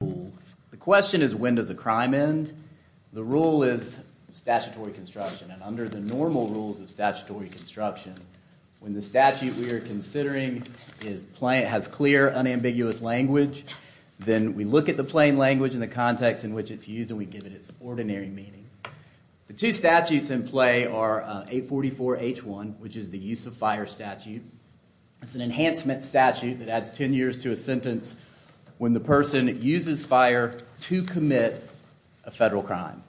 The question is, when does a crime end? The rule is statutory construction, and under the normal rules of statutory construction, when the statute we are considering has clear, unambiguous language, then we look at the plain language and the context in which it's used and we give it its ordinary meaning. The two statutes in play are 844-H1, which is the use of fire statute. It's an enhancement statute that adds 10 years to a sentence when the person uses fire to commit a federal crime.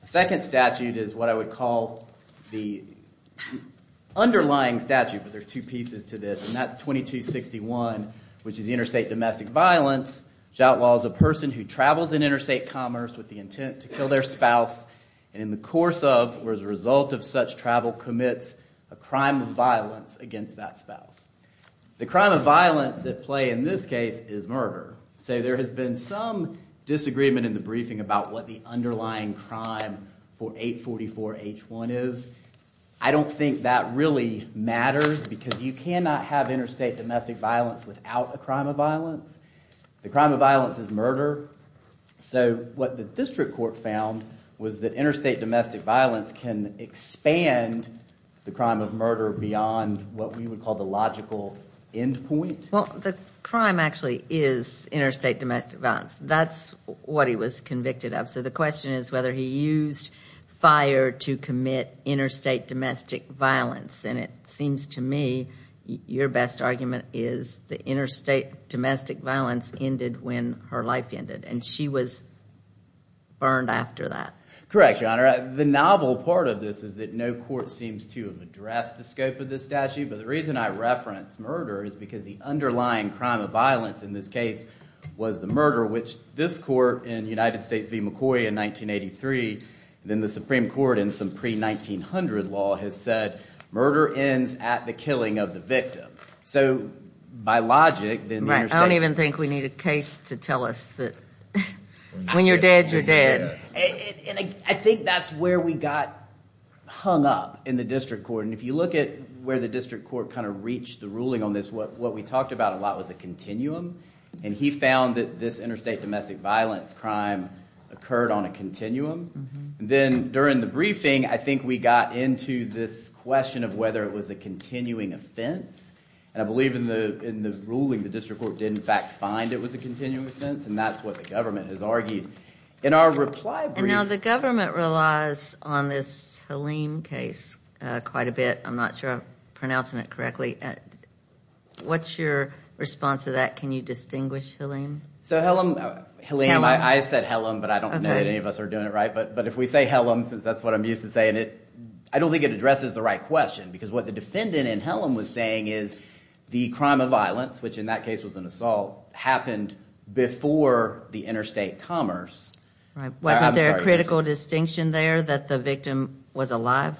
The second statute is what I would call the underlying statute, but there are two pieces to this, and that's 2261, which is interstate domestic violence, which outlaws a person who travels in interstate commerce with the intent to kill their spouse and in the course of or as a result of such travel commits a crime of violence against that spouse. The crime of violence at play in this case is murder. So there has been some disagreement in the briefing about what the underlying crime for 844-H1 is. I don't think that really matters because you cannot have interstate domestic violence without a crime of violence. The crime of violence is murder, so what the district court found was that interstate domestic violence can expand the crime of murder beyond what we would call the logical end point. Well, the crime actually is interstate domestic violence. That's what he was convicted of, so the question is whether he used fire to commit interstate domestic violence, and it seems to me your best argument is the interstate domestic violence ended when her life ended, and she was burned after that. Correct, Your Honor. The novel part of this is that no court seems to have addressed the scope of this statute, but the reason I reference murder is because the underlying crime of violence in this case was the murder, which this court in United States v. McCoy in 1983 and then the Supreme Court in some pre-1900 law has said murder ends at the killing of the victim. So by logic, then the interstate... Right. I don't even think we need a case to tell us that when you're dead, you're dead. I think that's where we got hung up in the district court, and if you look at where the district court kind of reached the ruling on this, what we talked about a lot was a continuum, and he found that this interstate domestic violence crime occurred on a continuum. Then during the briefing, I think we got into this question of whether it was a continuing offense, and I believe in the ruling the district court did in fact find it was a continuing offense, and that's what the government has argued. In our reply brief... And now the government relies on this Halim case quite a bit. I'm not sure I'm pronouncing it correctly. What's your response to that? Can you distinguish Halim? So Halim... Halim. I said Halim, but I don't know that any of us are doing it right, but if we say Halim, since that's what I'm used to saying, I don't think it addresses the right question, because what the defendant in Halim was saying is the crime of violence, which in that case was an assault, happened before the interstate commerce. Wasn't there a critical distinction there that the victim was alive?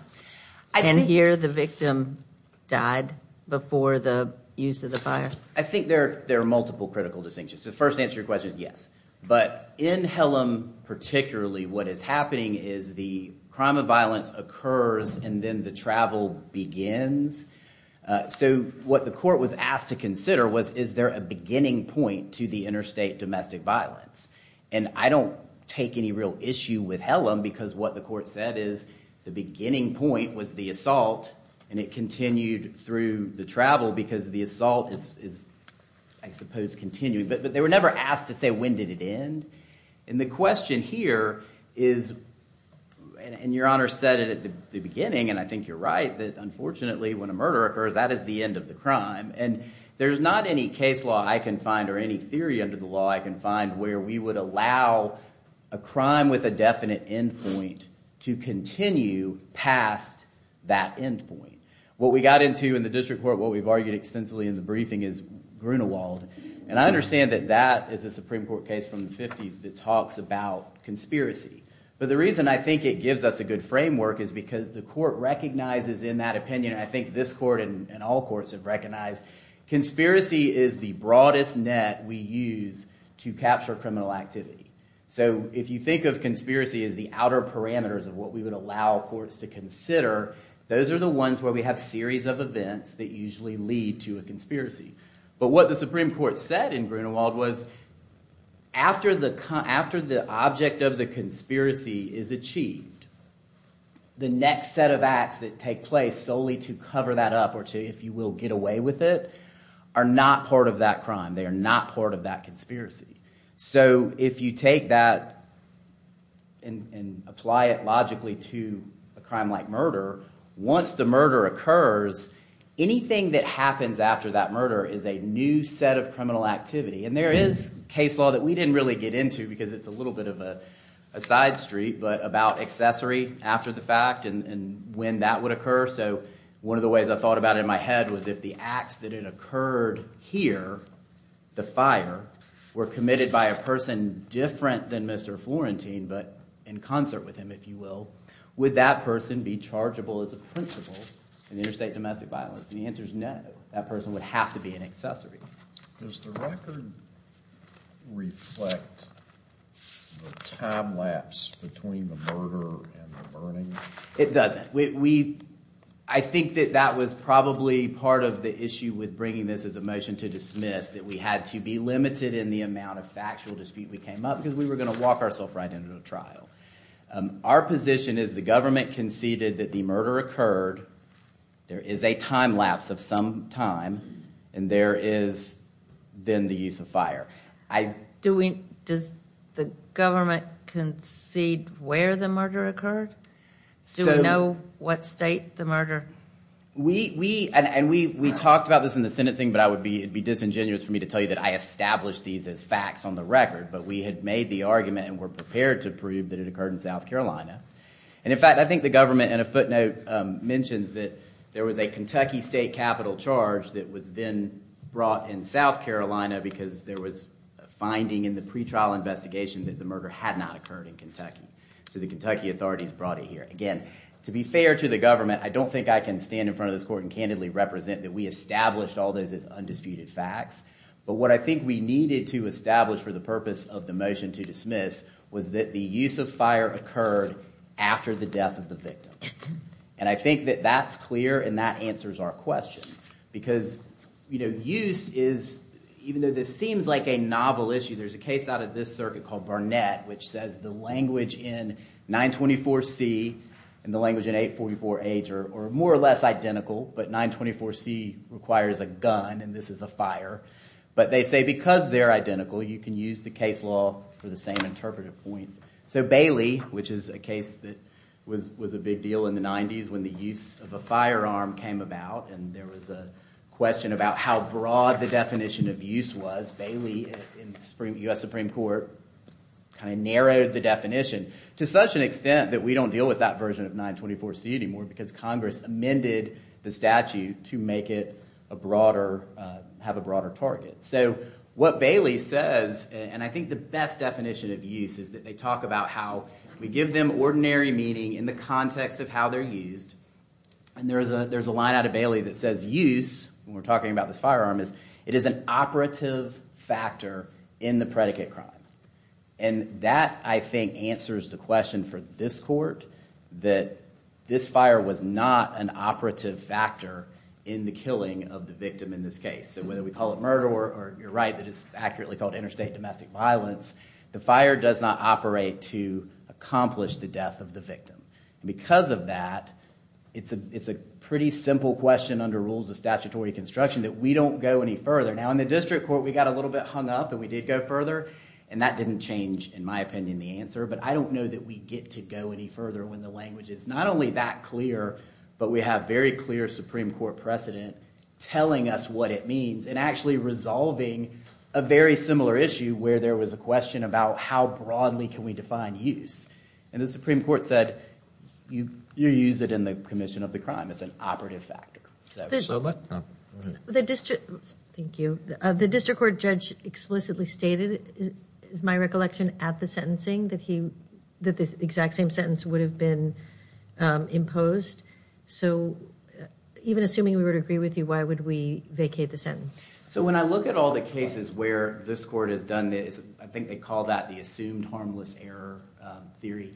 And here the victim died before the use of the fire? I think there are multiple critical distinctions. The first answer to your question is yes, but in Halim particularly, what is happening is the crime of violence occurs and then the travel begins. So what the court was asked to consider was, is there a beginning point to the interstate domestic violence? And I don't take any real issue with Halim, because what the court said is the beginning point was the assault, and it continued through the travel because the assault is, I suppose, continuing. But they were never asked to say when did it end. And the question here is, and your Honor said it at the beginning, and I think you're right, that unfortunately when a murder occurs, that is the end of the crime. And there's not any case law I can find or any theory under the law I can find where we would allow a crime with a definite end point to continue past that end point. What we got into in the district court, what we've argued extensively in the briefing is that there is a Supreme Court case from the 50s that talks about conspiracy. But the reason I think it gives us a good framework is because the court recognizes in that opinion, I think this court and all courts have recognized, conspiracy is the broadest net we use to capture criminal activity. So if you think of conspiracy as the outer parameters of what we would allow courts to consider, those are the ones where we have series of events that usually lead to a conspiracy. But what the Supreme Court said in Grunewald was, after the object of the conspiracy is achieved, the next set of acts that take place solely to cover that up or to, if you will, get away with it, are not part of that crime. They are not part of that conspiracy. So if you take that and apply it logically to a crime like murder, once the murder occurs, anything that happens after that murder is a new set of criminal activity. And there is case law that we didn't really get into because it's a little bit of a side street, but about accessory after the fact and when that would occur. So one of the ways I thought about it in my head was if the acts that had occurred here, the fire, were committed by a person different than Mr. Florentine, but in concert with him, if you will, would that person be chargeable as a principal in interstate domestic violence? And the answer is no. That person would have to be an accessory. Does the record reflect the time lapse between the murder and the burning? It doesn't. I think that that was probably part of the issue with bringing this as a motion to dismiss, that we had to be limited in the amount of factual dispute that came up because we were going to walk ourselves right into a trial. Our position is the government conceded that the murder occurred, there is a time lapse of some time, and there is then the use of fire. Does the government concede where the murder occurred? Do we know what state the murder? And we talked about this in the sentencing, but it would be disingenuous for me to tell you that I established these as facts on the record, but we had made the argument and were prepared to prove that it occurred in South Carolina. And in fact, I think the government in a footnote mentions that there was a Kentucky state capital charge that was then brought in South Carolina because there was a finding in the pretrial investigation that the murder had not occurred in Kentucky. So the Kentucky authorities brought it here. Again, to be fair to the government, I don't think I can stand in front of this court and represent that we established all those as undisputed facts. But what I think we needed to establish for the purpose of the motion to dismiss was that the use of fire occurred after the death of the victim. And I think that that's clear and that answers our question. Because use is, even though this seems like a novel issue, there's a case out of this circuit called Barnett, which says the language in 924C and the language in 844H are more or less identical, but 924C requires a gun and this is a fire. But they say because they're identical you can use the case law for the same interpretive points. So Bailey, which is a case that was a big deal in the 90s when the use of a firearm came about and there was a question about how broad the definition of use was, Bailey in the U.S. Supreme Court kind of narrowed the definition to such an extent that we don't deal with that version of 924C anymore because Congress amended the statute to make it a broader, have a broader target. So what Bailey says, and I think the best definition of use is that they talk about how we give them ordinary meaning in the context of how they're used and there's a line out of Bailey that says use, when we're talking about this firearm, is it is an operative factor in the predicate crime. And that, I think, answers the question for this court that this fire was not an operative factor in the killing of the victim in this case. So whether we call it murder or, you're right, it's accurately called interstate domestic violence, the fire does not operate to accomplish the death of the victim. Because of that, it's a pretty simple question under rules of statutory construction that we don't go any further. Now in the district court we got a little bit hung up and we did go further. And that didn't change, in my opinion, the answer. But I don't know that we get to go any further when the language is not only that clear, but we have very clear Supreme Court precedent telling us what it means and actually resolving a very similar issue where there was a question about how broadly can we define use. And the Supreme Court said you use it in the commission of the crime. It's an operative factor. So what? The district, thank you. The district court judge explicitly stated, is my recollection, at the sentencing that he, that the exact same sentence would have been imposed. So even assuming we were to agree with you, why would we vacate the sentence? So when I look at all the cases where this court has done this, I think they call that the assumed harmless error theory.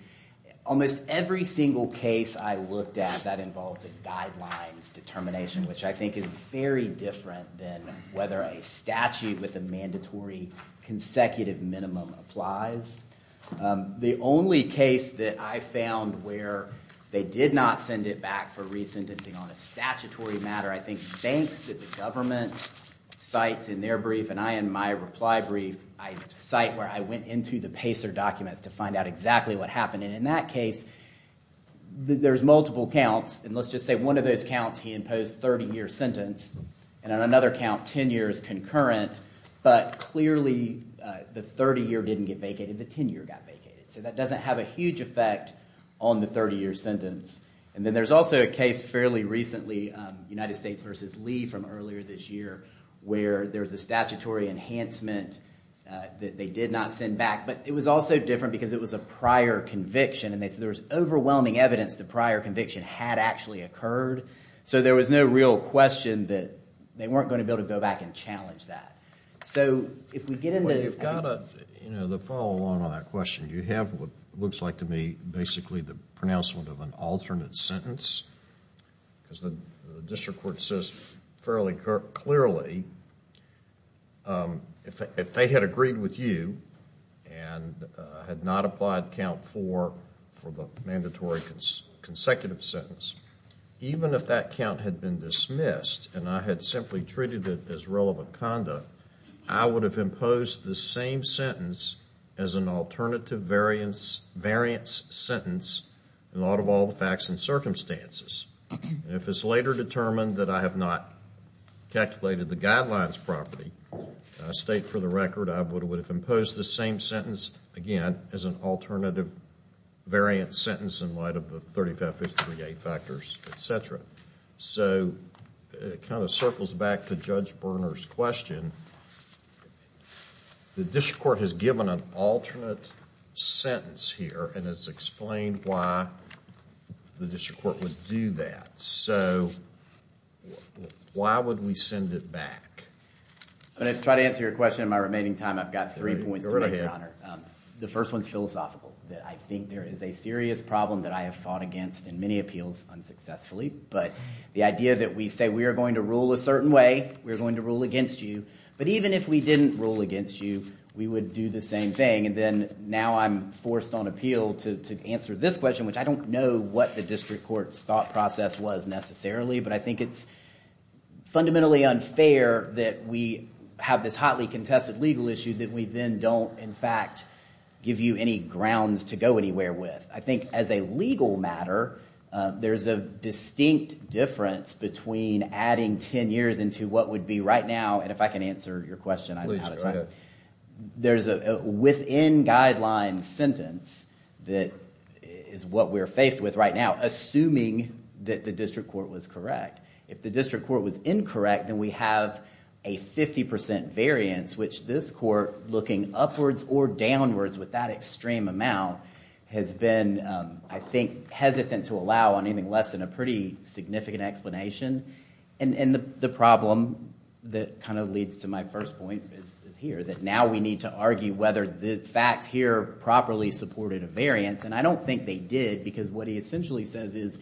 Almost every single case I looked at that involves a guidelines determination, which I think is very different than whether a statute with a mandatory consecutive minimum applies. The only case that I found where they did not send it back for re-sentencing on a statutory matter, I think thanks to the government cites in their brief and I in my reply brief, I cite where I went into the PACER documents to find out exactly what happened. And in that case, there's multiple counts and let's just say one of those counts he imposed a 30 year sentence and on another count 10 years concurrent but clearly the 30 year didn't get vacated, the 10 year got vacated. So that doesn't have a huge effect on the 30 year sentence. And then there's also a case fairly recently United States v. Lee from earlier this year where there's a statutory enhancement that they did not send back but it was also different because it was a prior conviction and they said there was overwhelming evidence the prior conviction had actually occurred. So there was no real question that they weren't going to be able to go back and challenge that. So if we get into... Well you've got to, you know, the follow along on that question. You have what looks like to me basically the pronouncement of an alternate sentence because the district court says fairly clearly if they had agreed with you and had not applied count 4 for the mandatory consecutive sentence, even if that count had been dismissed and I had simply treated it as relevant conduct, I would have imposed the same sentence as an alternative variance sentence in light of all the facts and circumstances. And if it's later determined that I have not calculated the guidelines properly, I state for the record I would have imposed the same sentence again as an alternative variant sentence in light of the 3558 factors, etc. So it kind of circles back to Judge Berner's question. The district court has given an alternate sentence here and has explained why the district court would do that. So why would we send it back? I'm going to try to answer your question in my remaining time. I've got three points to make, Your Honor. The first one is philosophical. I think there is a serious problem that I have fought against in many appeals unsuccessfully, but the idea that we say we are going to rule a certain way, we're going to rule against you, but even if we didn't rule against you, we would do the same thing. And then now I'm forced on appeal to answer this question, which I don't know what the district court's thought process was necessarily, but I think it's fundamentally unfair that we have this hotly contested legal issue that we then don't, in fact, give you any grounds to go anywhere with. I think as a legal matter, there's a distinct difference between adding 10 years into what would be right now, and if I can answer your question, I'm out of time. There's a within guideline sentence that is what we're faced with right now, assuming that the district court was correct. If the district court was incorrect, then we have a 50% variance, which this court, looking upwards or downwards with that extreme amount, has been, I think, hesitant to allow on anything less than a pretty significant explanation. And the problem that kind of leads to my first point is here, that now we need to argue whether the facts here properly supported a variance, and I don't think they did, because what he essentially says is,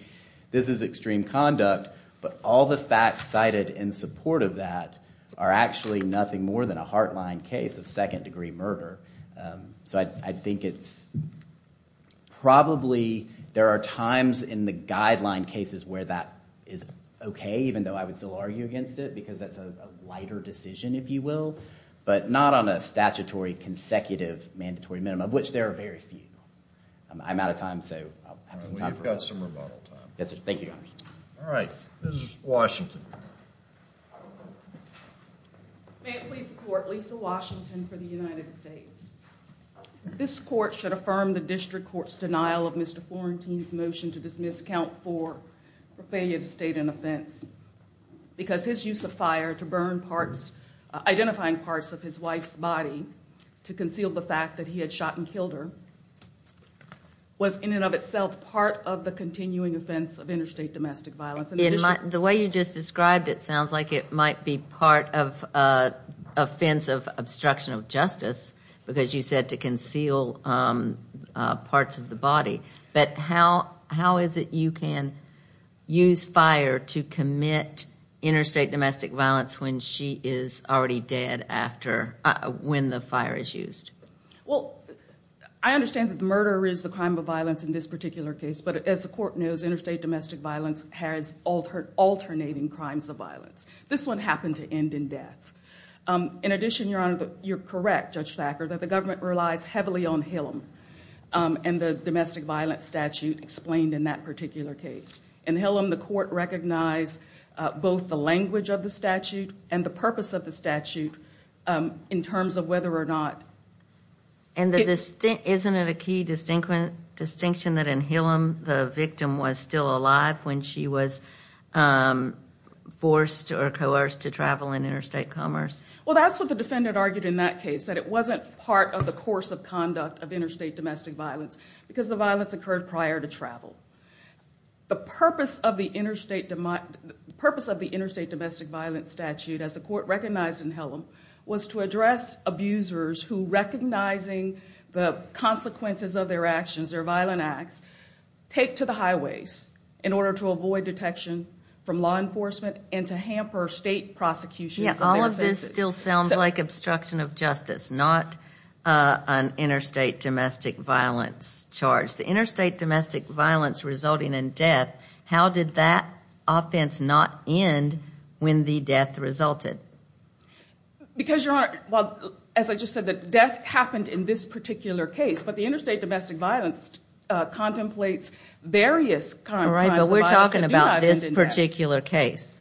this is extreme conduct, but all the facts cited in support of that are actually nothing more than a heartline case of second-degree murder. So I think it's probably, there are times in the guideline cases where that is okay, even though I would still argue against it, because that's a lighter decision, if you will, but not on a statutory consecutive mandatory minimum, of which there are very few. I'm out of time, so I'll have some time for questions. Well, you've got some rebuttal time. Yes, sir. Thank you, Your Honor. All right. Ms. Washington. May it please the Court, Lisa Washington for the United States. This Court should affirm the district court's denial of Mr. Florentine's motion to dismiss Count 4 for failure to state an offense, because his use of fire to burn parts, identifying parts of his wife's body to conceal the fact that he had shot and killed her, was in and of itself part of the continuing offense of interstate domestic violence. The way you just described it sounds like it might be part of an offense of obstruction of justice, because you said to conceal parts of the body. But how is it you can use fire to commit interstate domestic violence when she is already dead after, when the fire is used? Well, I understand that murder is a crime of violence in this particular case, but as the Court knows, interstate domestic violence has alternating crimes of violence. This one happened to end in death. In addition, Your Honor, you're correct, Judge Thacker, that the government relies heavily on Hillam and the domestic violence statute explained in that particular case. In Hillam, the Court recognized both the language of the statute and the purpose of the statute in terms of whether or not... Isn't it a key distinction that in Hillam the victim was still alive when she was forced or coerced to travel in interstate commerce? Well, that's what the defendant argued in that case, that it wasn't part of the course of conduct of interstate domestic violence, because the violence occurred prior to travel. The purpose of the interstate domestic violence statute, as the Court recognized in Hillam, was to address abusers who, recognizing the consequences of their actions, their violent acts, take to the highways in order to avoid detection from law enforcement and to hamper state prosecutions of their offenses. Yes, all of this still sounds like obstruction of justice, not an interstate domestic violence charge. The interstate domestic violence resulting in death, how did that offense not end when the death resulted? Because, Your Honor, as I just said, the death happened in this particular case, but the interstate domestic violence contemplates various kinds of violence that do not end All right, but we're talking about this particular case.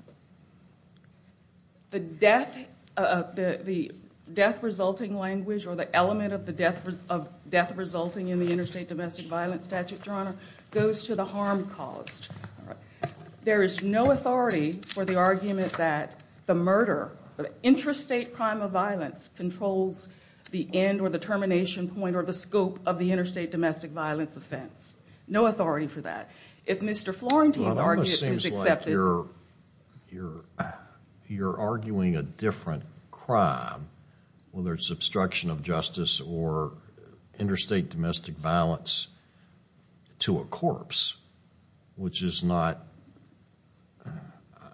The death-resulting language or the element of death resulting in the interstate domestic violence statute, Your Honor, goes to the harm caused. There is no authority for the argument that the murder, the intrastate crime of violence, controls the end or the termination point or the scope of the interstate domestic violence offense. No authority for that. If Mr. Florentine's argument is accepted Well, it almost seems like you're arguing a different crime, whether it's obstruction of justice or interstate domestic violence to a corpse, which is not,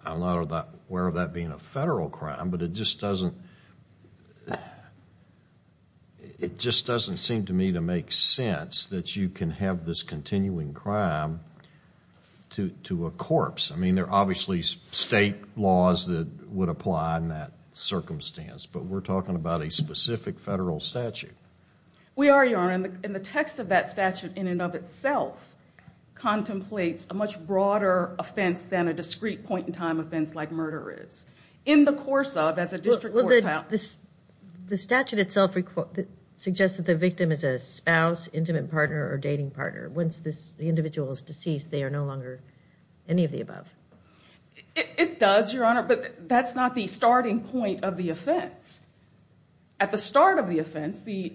I'm not aware of that being a federal crime, but it just doesn't seem to me to make sense that you can have this continuing crime to a corpse. I mean, there are obviously state laws that would apply in that circumstance, but we're talking about a specific federal statute. We are, Your Honor, and the text of that statute in and of itself contemplates a much broader offense than a discrete point-in-time offense like murder is. In the course of, as a district court filed Well, the statute itself suggests that the victim is a spouse, intimate partner, or dating partner. Once the individual is deceased, they are no longer any of the above. It does, Your Honor, but that's not the starting point of the offense. At the start of the offense, the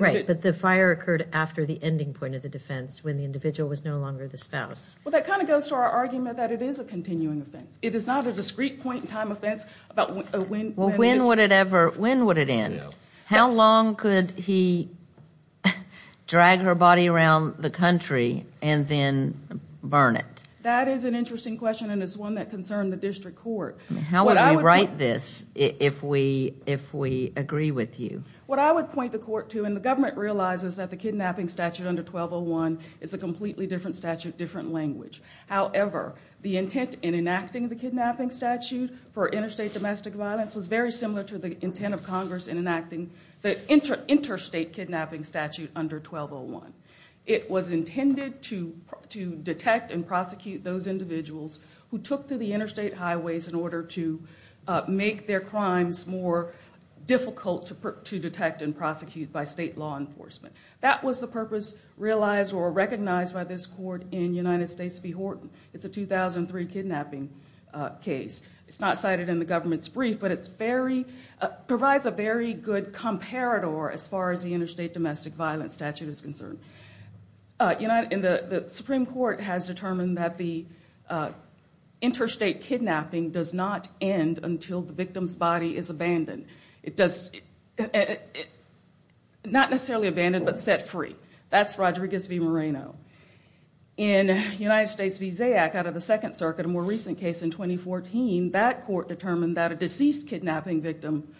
Right, but the fire occurred after the ending point of the defense, when the individual was no longer the spouse. Well, that kind of goes to our argument that it is a continuing offense. It is not a discrete point-in-time offense about when Well, when would it ever, when would it end? How long could he drag her body around the country and then burn it? That is an interesting question, and it's one that concerned the district court. How would we write this if we agree with you? What I would point the court to, and the government realizes that the kidnapping statute under 1201 is a completely different statute, different language. However, the intent in enacting the kidnapping statute for interstate domestic violence was very similar to the intent of Congress in enacting the interstate kidnapping statute under 1201. It was intended to detect and prosecute those individuals who took to the interstate highways in order to make their crimes more difficult to detect and prosecute by state law enforcement. That was the purpose realized or recognized by this court in United States v. Horton. It's a 2003 kidnapping case. It's not cited in the government's brief, but it's very, provides a very good comparator as far as the interstate domestic violence statute is concerned. The Supreme Court has determined that the interstate kidnapping does not end until the victim's body is abandoned. It does, not necessarily abandoned, but set free. That's Rodriguez v. Moreno. In United States v. Zayack out of the Second Circuit, a more recent case in 2014, that court determined that a deceased kidnapping victim,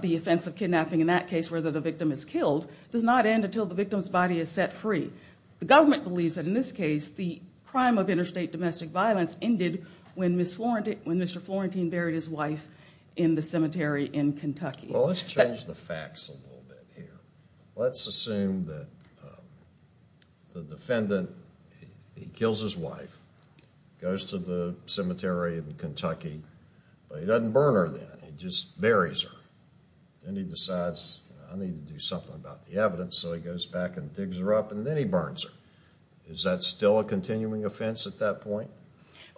the offense of kidnapping in that case where the victim is killed, does not end until the victim's body is set free. The government believes that in this case, the crime of interstate domestic violence ended when Mr. Florentine buried his wife in the cemetery in Kentucky. Well, let's change the facts a little bit here. Let's assume that the defendant, he kills his wife, goes to the cemetery in Kentucky, but he doesn't burn her then. He just buries her. Then he decides, I need to do something about the evidence, so he goes back and digs her up and then he burns her. Is that still a continuing offense at that point?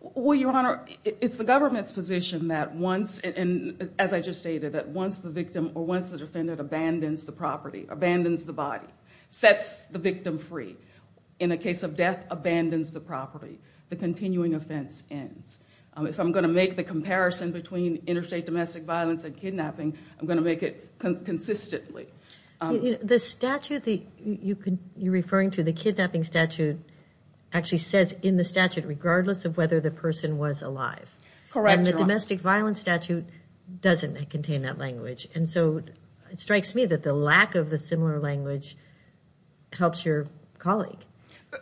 Well, Your Honor, it's the government's position that once, as I just stated, that once the victim or once the defendant abandons the property, abandons the body, sets the victim free, in the case of death, abandons the property, the continuing offense ends. If I'm going to make the comparison between interstate domestic violence and kidnapping, I'm going to make it consistently. The statute you're referring to, the kidnapping statute, actually says in the statute, regardless of whether the person was alive. Correct, Your Honor. The domestic violence statute doesn't contain that language. It strikes me that the lack of the similar language helps your colleague.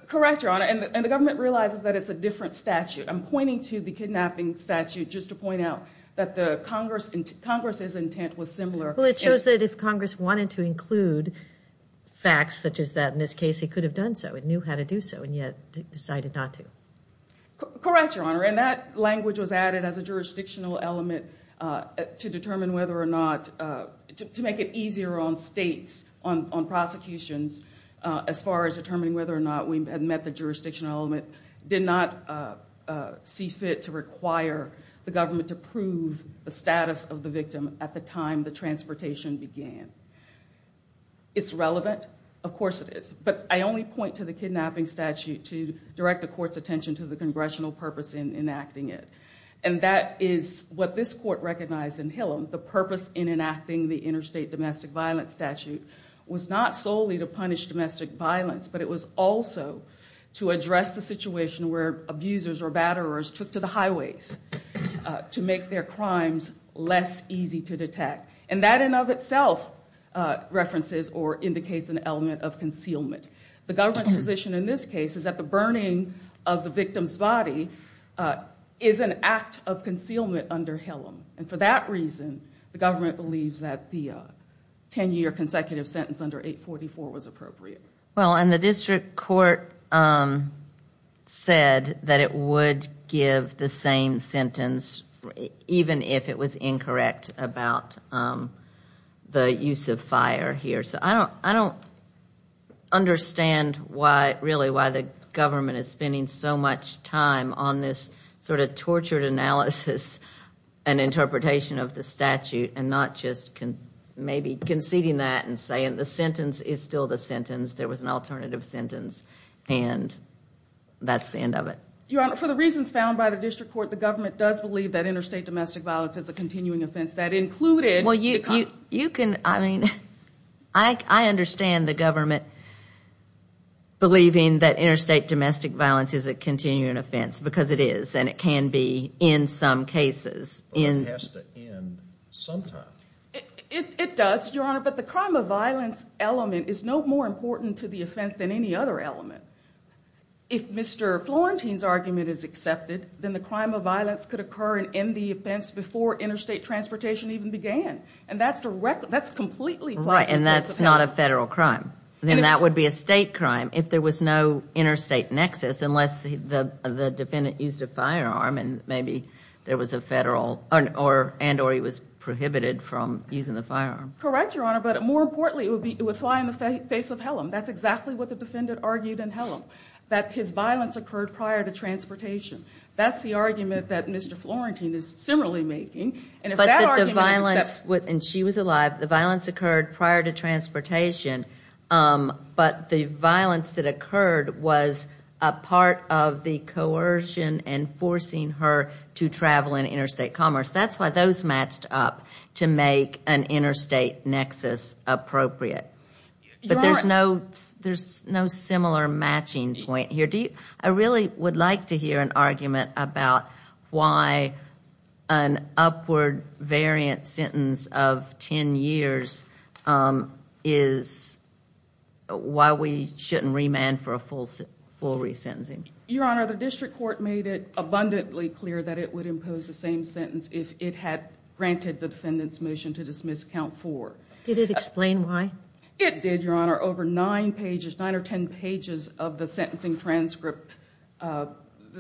Correct, Your Honor. The government realizes that it's a different statute. I'm pointing to the kidnapping statute just to point out that Congress's intent was similar. It shows that if Congress wanted to include facts such as that in this case, it could have done so. It knew how to do so and yet decided not to. Correct, Your Honor. That language was added as a jurisdictional element to determine whether or not, to make it easier on states, on prosecutions, as far as determining whether or not we had the jurisdictional element, did not see fit to require the government to prove the status of the victim at the time the transportation began. It's relevant. Of course it is. I only point to the kidnapping statute to direct the court's attention to the congressional purpose in enacting it. That is what this court recognized in Hillam. The purpose in enacting the interstate domestic violence statute was not solely to punish domestic violence, but it was also to address the situation where abusers or batterers took to the highways to make their crimes less easy to detect. That in and of itself references or indicates an element of concealment. The government's position in this case is that the burning of the victim's body is an act of concealment under Hillam. For that reason, the government believes that the ten-year consecutive sentence under 844 was appropriate. The district court said that it would give the same sentence even if it was incorrect about the use of fire here. I don't understand really why the government is spending so much time on this sort of tortured analysis and interpretation of the statute and not just maybe conceding that and saying the sentence is still the sentence. There was an alternative sentence and that's the end of it. For the reasons found by the district court, the government does believe that interstate domestic violence is a continuing offense. That included the... I mean, I understand the government believing that interstate domestic violence is a continuing offense because it is and it can be in some cases. It has to end sometime. It does, Your Honor, but the crime of violence element is no more important to the offense than any other element. If Mr. Florentine's argument is accepted, then the crime of violence could occur in the offense before interstate transportation even began. That's completely plausible. Right, and that's not a federal crime. Then that would be a state crime if there was no interstate nexus unless the defendant used a firearm and maybe there was a federal... and or he was prohibited from using the firearm. Correct, Your Honor, but more importantly, it would fly in the face of Helm. That's exactly what the defendant argued in Helm, that his violence occurred prior to transportation. That's the argument that Mr. Florentine is similarly making and if that argument is accepted... And she was alive. The violence occurred prior to transportation, but the violence that occurred was a part of the coercion and forcing her to travel in interstate commerce. That's why those matched up to make an interstate nexus appropriate. Your Honor... But there's no similar matching point here. I really would like to hear an argument about why an upward variant sentence of 10 years is... why we shouldn't remand for a full re-sentencing. Your Honor, the district court made it abundantly clear that it would impose the same sentence if it had granted the defendant's motion to dismiss count 4. Did it explain why? It did, Your Honor. Over 9 pages, 9 or 10 pages of the sentencing transcript, the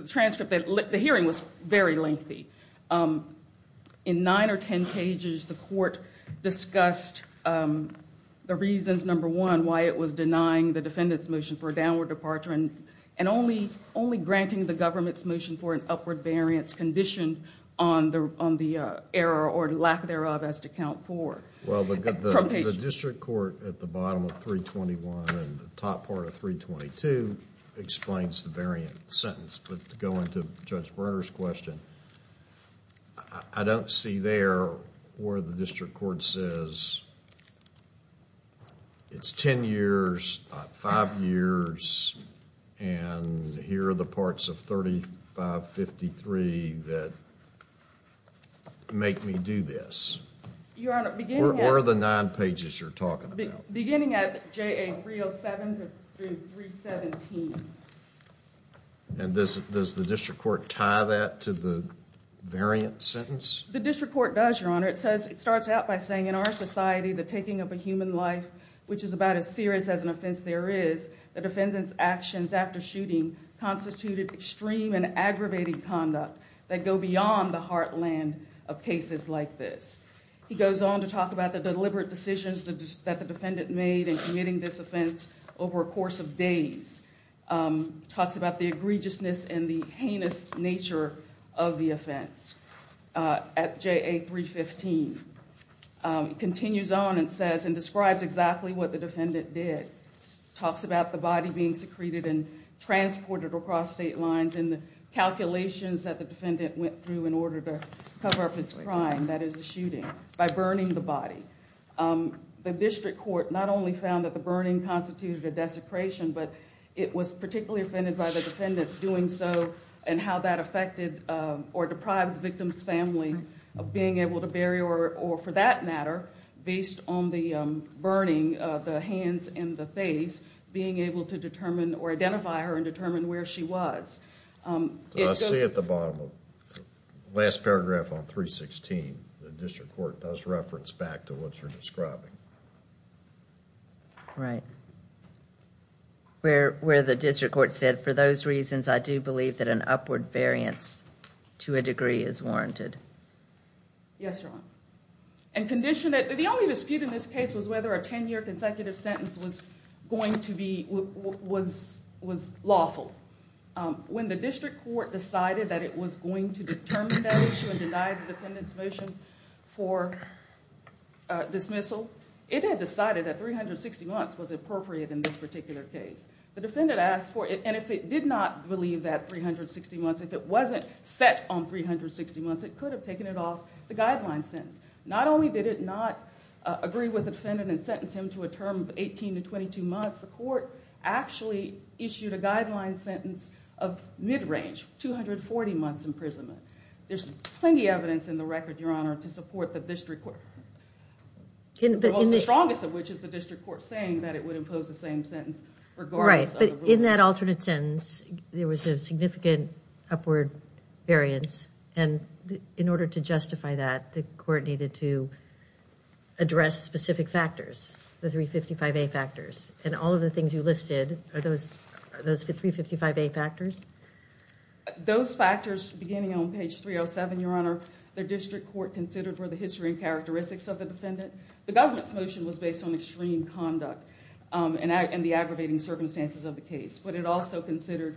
transcript that... the hearing was very lengthy. In 9 or 10 pages, the court discussed the reasons, number one, why it was denying the defendant's motion for a downward departure and only granting the government's motion for an upward variance conditioned on the error or lack thereof as to count 4. Well, the district court at the bottom of 321 and the top part of 322 explains the variant sentence, but to go into Judge Bruner's question, I don't see there where the district court says it's 10 years, 5 years, and here are the parts of 3553 that make me do this. Your Honor, beginning at... Where are the 9 pages you're talking about? Beginning at JA 307 through 317. And does the district court tie that to the variant sentence? The district court does, Your Honor. It starts out by saying, in our society, the taking of a human life, which is about as serious as an offense there is, the defendant's actions after shooting constituted extreme and aggravating conduct that go beyond the heartland of cases like this. He goes on to talk about the deliberate decisions that the defendant made in committing this offense over a course of days. Talks about the egregiousness and the heinous nature of the offense at JA 315. Continues on and says and describes exactly what the defendant did. Talks about the body being secreted and transported across state lines and the calculations that the defendant went through in order to cover up his crime, that is, the shooting, by burning the body. The district court not only found that the burning constituted a desecration, but it was particularly offended by the defendant's doing so and how that affected or deprived the victim's family of being able to bury or, for that matter, based on the burning of the hands and the face, being able to determine or identify her and determine where she was. I see at the bottom of the last paragraph on 316, the district court does reference back to what you're describing. Right. Where the district court said, for those reasons, I do believe that an upward variance to a degree is warranted. Yes, Your Honor. And condition that the only dispute in this case was whether a ten-year consecutive sentence was lawful. When the district court decided that it was going to determine that issue and deny the defendant's motion for dismissal, it had decided that 360 months was appropriate in this particular case. The defendant asked for it, and if it did not believe that 360 months, if it wasn't set on 360 months, it could have taken it off the guideline sentence. Not only did it not agree with the defendant and sentence him to a term of 18 to 22 months, the court actually issued a guideline sentence of mid-range, 240 months imprisonment. There's plenty of evidence in the record, Your Honor, to support the district court, the strongest of which is the district court saying that it would impose the same sentence regardless of the ruling. Right, but in that alternate sentence, there was a significant upward variance, and in order to justify that, the court needed to address specific factors, the 355A factors. And all of the things you listed, are those the 355A factors? Those factors, beginning on page 307, Your Honor, the district court considered were the history and characteristics of the defendant. The government's motion was based on extreme conduct and the aggravating circumstances of the case, but the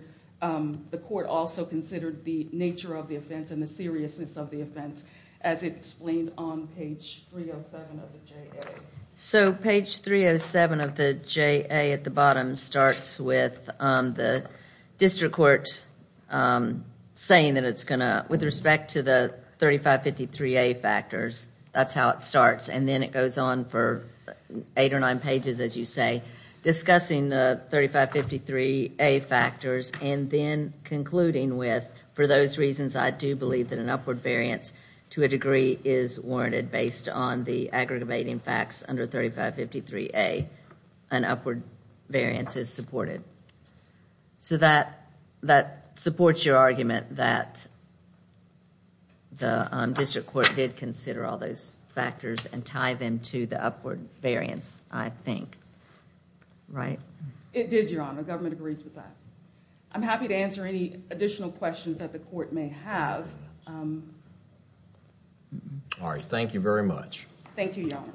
court also considered the nature of the offense and the seriousness of the offense, as it explained on page 307 of the JA. So page 307 of the JA at the bottom starts with the district court saying that it's going to, with respect to the 3553A factors, that's how it starts, and then it goes on for eight or nine pages, as you say, discussing the 3553A factors and then concluding with, for those reasons, I do believe that an upward variance to a degree is warranted based on the aggravating facts under 3553A, an upward variance is supported. So that supports your argument that the district court did consider all those factors and tie them to the upward variance, I think, right? It did, Your Honor. The government agrees with that. I'm happy to answer any additional questions that the court may have. All right, thank you very much. Thank you, Your Honor.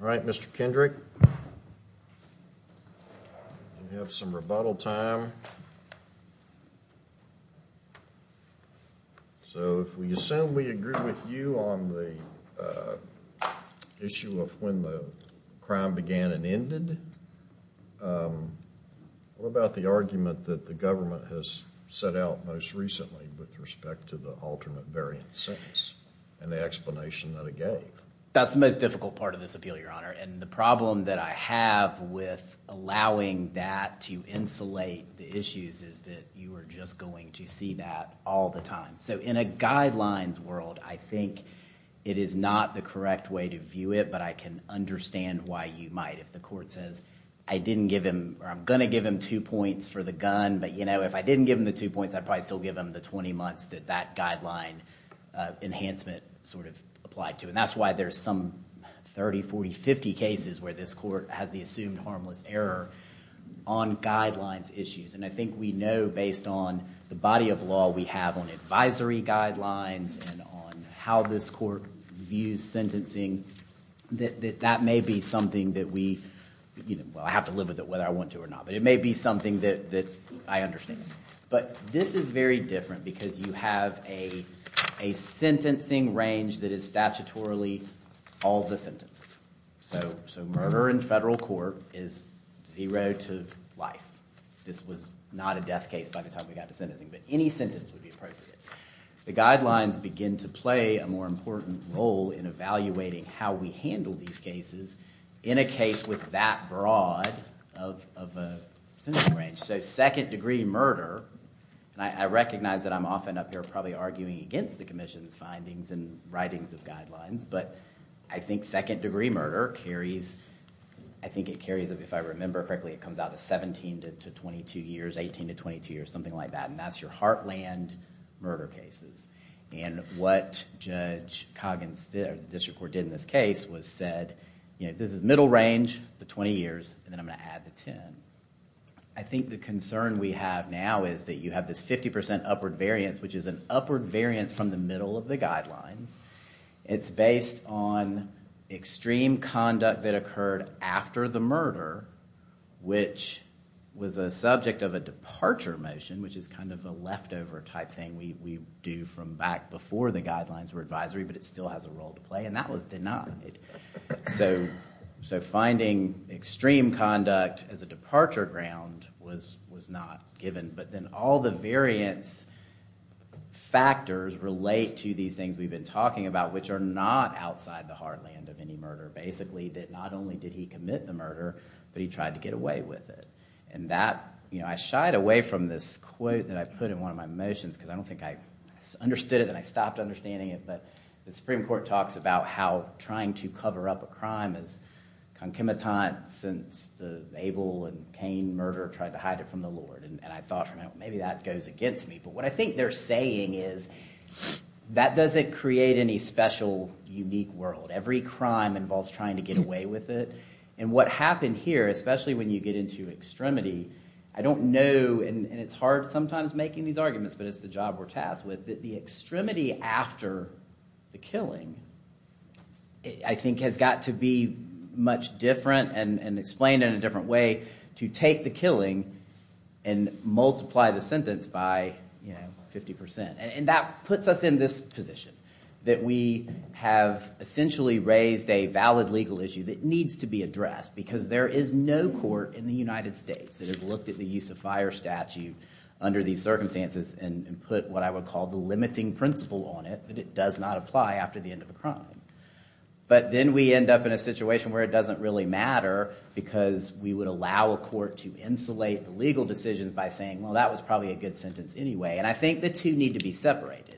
All right, Mr. Kendrick, we have some rebuttal time. So if we assume we agree with you on the issue of when the crime began and ended, what about the argument that the government has set out most recently with respect to the alternate variance sentence and the explanation that it gave? That's the most difficult part of this appeal, Your Honor, and the problem that I have with allowing that to insulate the issues is that you are just going to see that all the time. So in a guidelines world, I think it is not the correct way to view it, but I can understand why you might if the court says, I didn't give him, or I'm going to give him two points for the gun, but, you know, if I didn't give him the two points, I'd probably still give him the 20 months that that guideline enhancement sort of applied to. And that's why there's some 30, 40, 50 cases where this court has the assumed harmless error on guidelines issues. And I think we know based on the body of law we have on advisory guidelines and on how this court views sentencing that that may be something that we, you know, well I have to live with it whether I want to or not, but it may be something that I understand. But this is very different because you have a sentencing range that is statutorily all the sentences. So murder in federal court is zero to life. This was not a death case by the time we got to sentencing, but any sentence would be appropriate. The guidelines begin to play a more important role in evaluating how we handle these cases in a case with that broad of a sentencing range. So second degree murder, and I recognize that I'm often up here probably arguing against the commission's findings and writings of guidelines, but I think second degree murder carries, I think it carries, if I remember correctly, it comes out to 17 to 22 years, 18 to 22 years, something like that, and that's your heartland murder cases. And what Judge Coggins did, or the district court did in this case, was said, you know, this is middle range, the 20 years, and then I'm going to add the 10. I think the concern we have now is that you have this 50% upward variance, which is an upward variance from the middle of the guidelines. It's based on extreme conduct that occurred after the murder, which was a subject of a departure motion, which is kind of a leftover type thing we do from back before the guidelines were advisory, but it still has a role to play, and that was denied. So finding extreme conduct as a departure ground was not given, but then all the variance factors relate to these things we've been talking about, which are not outside the heartland of any murder, basically, that not only did he commit the murder, but he tried to get away with it. And that, you know, I shied away from this quote that I put in one of my motions, because I don't think I understood it and I stopped understanding it, but the Supreme Court talks about how trying to cover up a crime is concomitant since the Abel and Cain murder tried to hide it from the Lord, and I thought, you know, maybe that goes against me, but what I think they're saying is that doesn't create any special, unique world. Every crime involves trying to get away with it, and what happened here, especially when you get into extremity, I don't know, and it's hard sometimes making these arguments, but it's the job we're tasked with, that the extremity after the killing, I think has got to be much different and explained in a different way to take the killing and multiply the sentence by, you know, 50%. And that puts us in this position, that we have essentially raised a valid legal issue that needs to be addressed, because there is no court in the United States that has looked at the use of fire statute under these circumstances and put what I would call the limiting principle on it, that it does not apply after the end of a crime. But then we end up in a situation where it doesn't really matter, because we would allow a court to insulate the legal decisions by saying, well, that was probably a good sentence anyway, and I think the two need to be separated.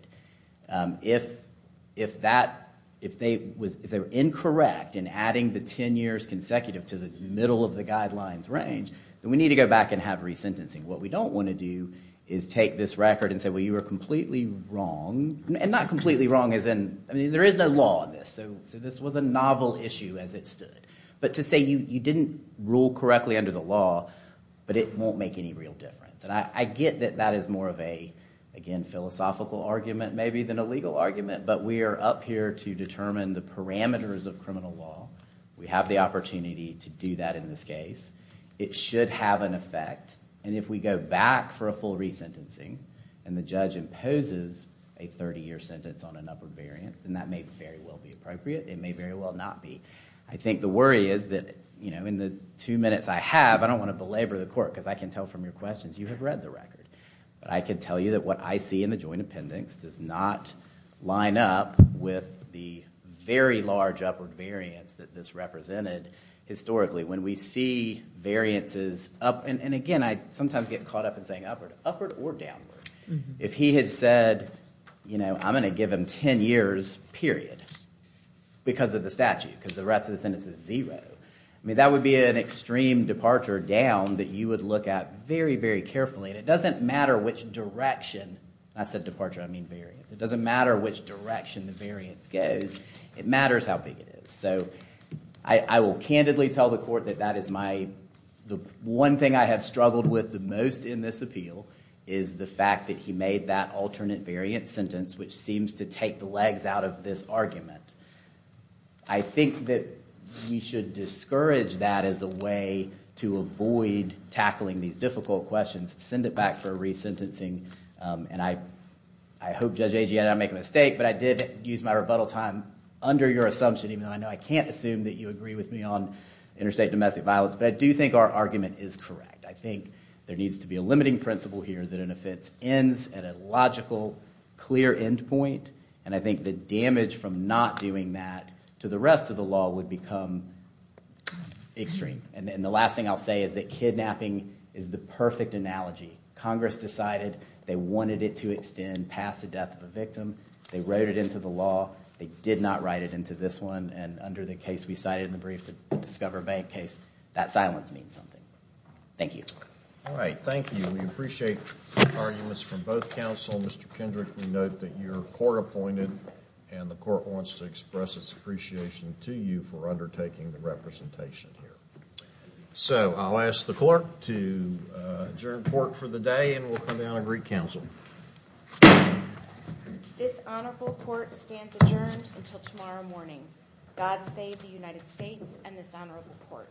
If that, if they were incorrect in adding the 10 years consecutive to the middle of the guidelines range, then we need to go back and have resentencing. What we don't want to do is take this record and say, well, you were completely wrong, and not completely wrong as in, I mean, there is no law on this, so this was a novel issue as it stood. But to say you didn't rule correctly under the law, but it won't make any real difference. And I get that that is more of a, again, philosophical argument maybe than a legal argument, but we are up here to determine the parameters of criminal law. We have the opportunity to do that in this case. It should have an effect, and if we go back for a full resentencing, and the judge imposes a 30-year sentence on an upper variance, then that may very well be appropriate, it may very well not be. I think the worry is that, you know, in the two minutes I have, I don't want to belabor the court, because I can tell from your questions, you have read the record, but I can tell you that what I see in the joint appendix does not line up with the very large upward variance that this represented historically. When we see variances up, and again, I sometimes get caught up in saying upward, upward or downward. If he had said, you know, I'm going to give him 10 years, period, because of the statute, because the rest of the sentence is zero, I mean, that would be an extreme departure down that you would look at very, very carefully, and it doesn't matter which direction, and I said departure, I mean variance, it doesn't matter which direction the variance goes, it matters how big it is, so I will candidly tell the court that that is my, the one thing I have struggled with the most in this appeal is the fact that he made that alternate variance sentence, which seems to take the legs out of this argument. I think that we should discourage that as a way to avoid tackling these difficult questions, send it back for re-sentencing, and I hope Judge Agee, I did not make a mistake, but I did use my rebuttal time under your assumption, even though I know I can't assume that you agree with me on interstate domestic violence, but I do think our argument is correct. I think there needs to be a limiting principle here that an offense ends at a logical, clear end point, and I think the damage from not doing that to the rest of the law would become extreme. And the last thing I'll say is that kidnapping is the perfect analogy. Congress decided they wanted it to extend past the death of a victim, they wrote it into the law, they did not write it into this one, and under the case we cited in the brief, the Discover Bank case, that silence means something. Thank you. Alright, thank you. We appreciate arguments from both counsel. Mr. Kendrick, we note that you're court-appointed, and the court wants to express its appreciation to you for undertaking the representation here. So I'll ask the clerk to adjourn court for the day, and we'll come down and re-counsel. This honorable court stands adjourned until tomorrow morning. God save the United States and this honorable court. Thank you. Thank you.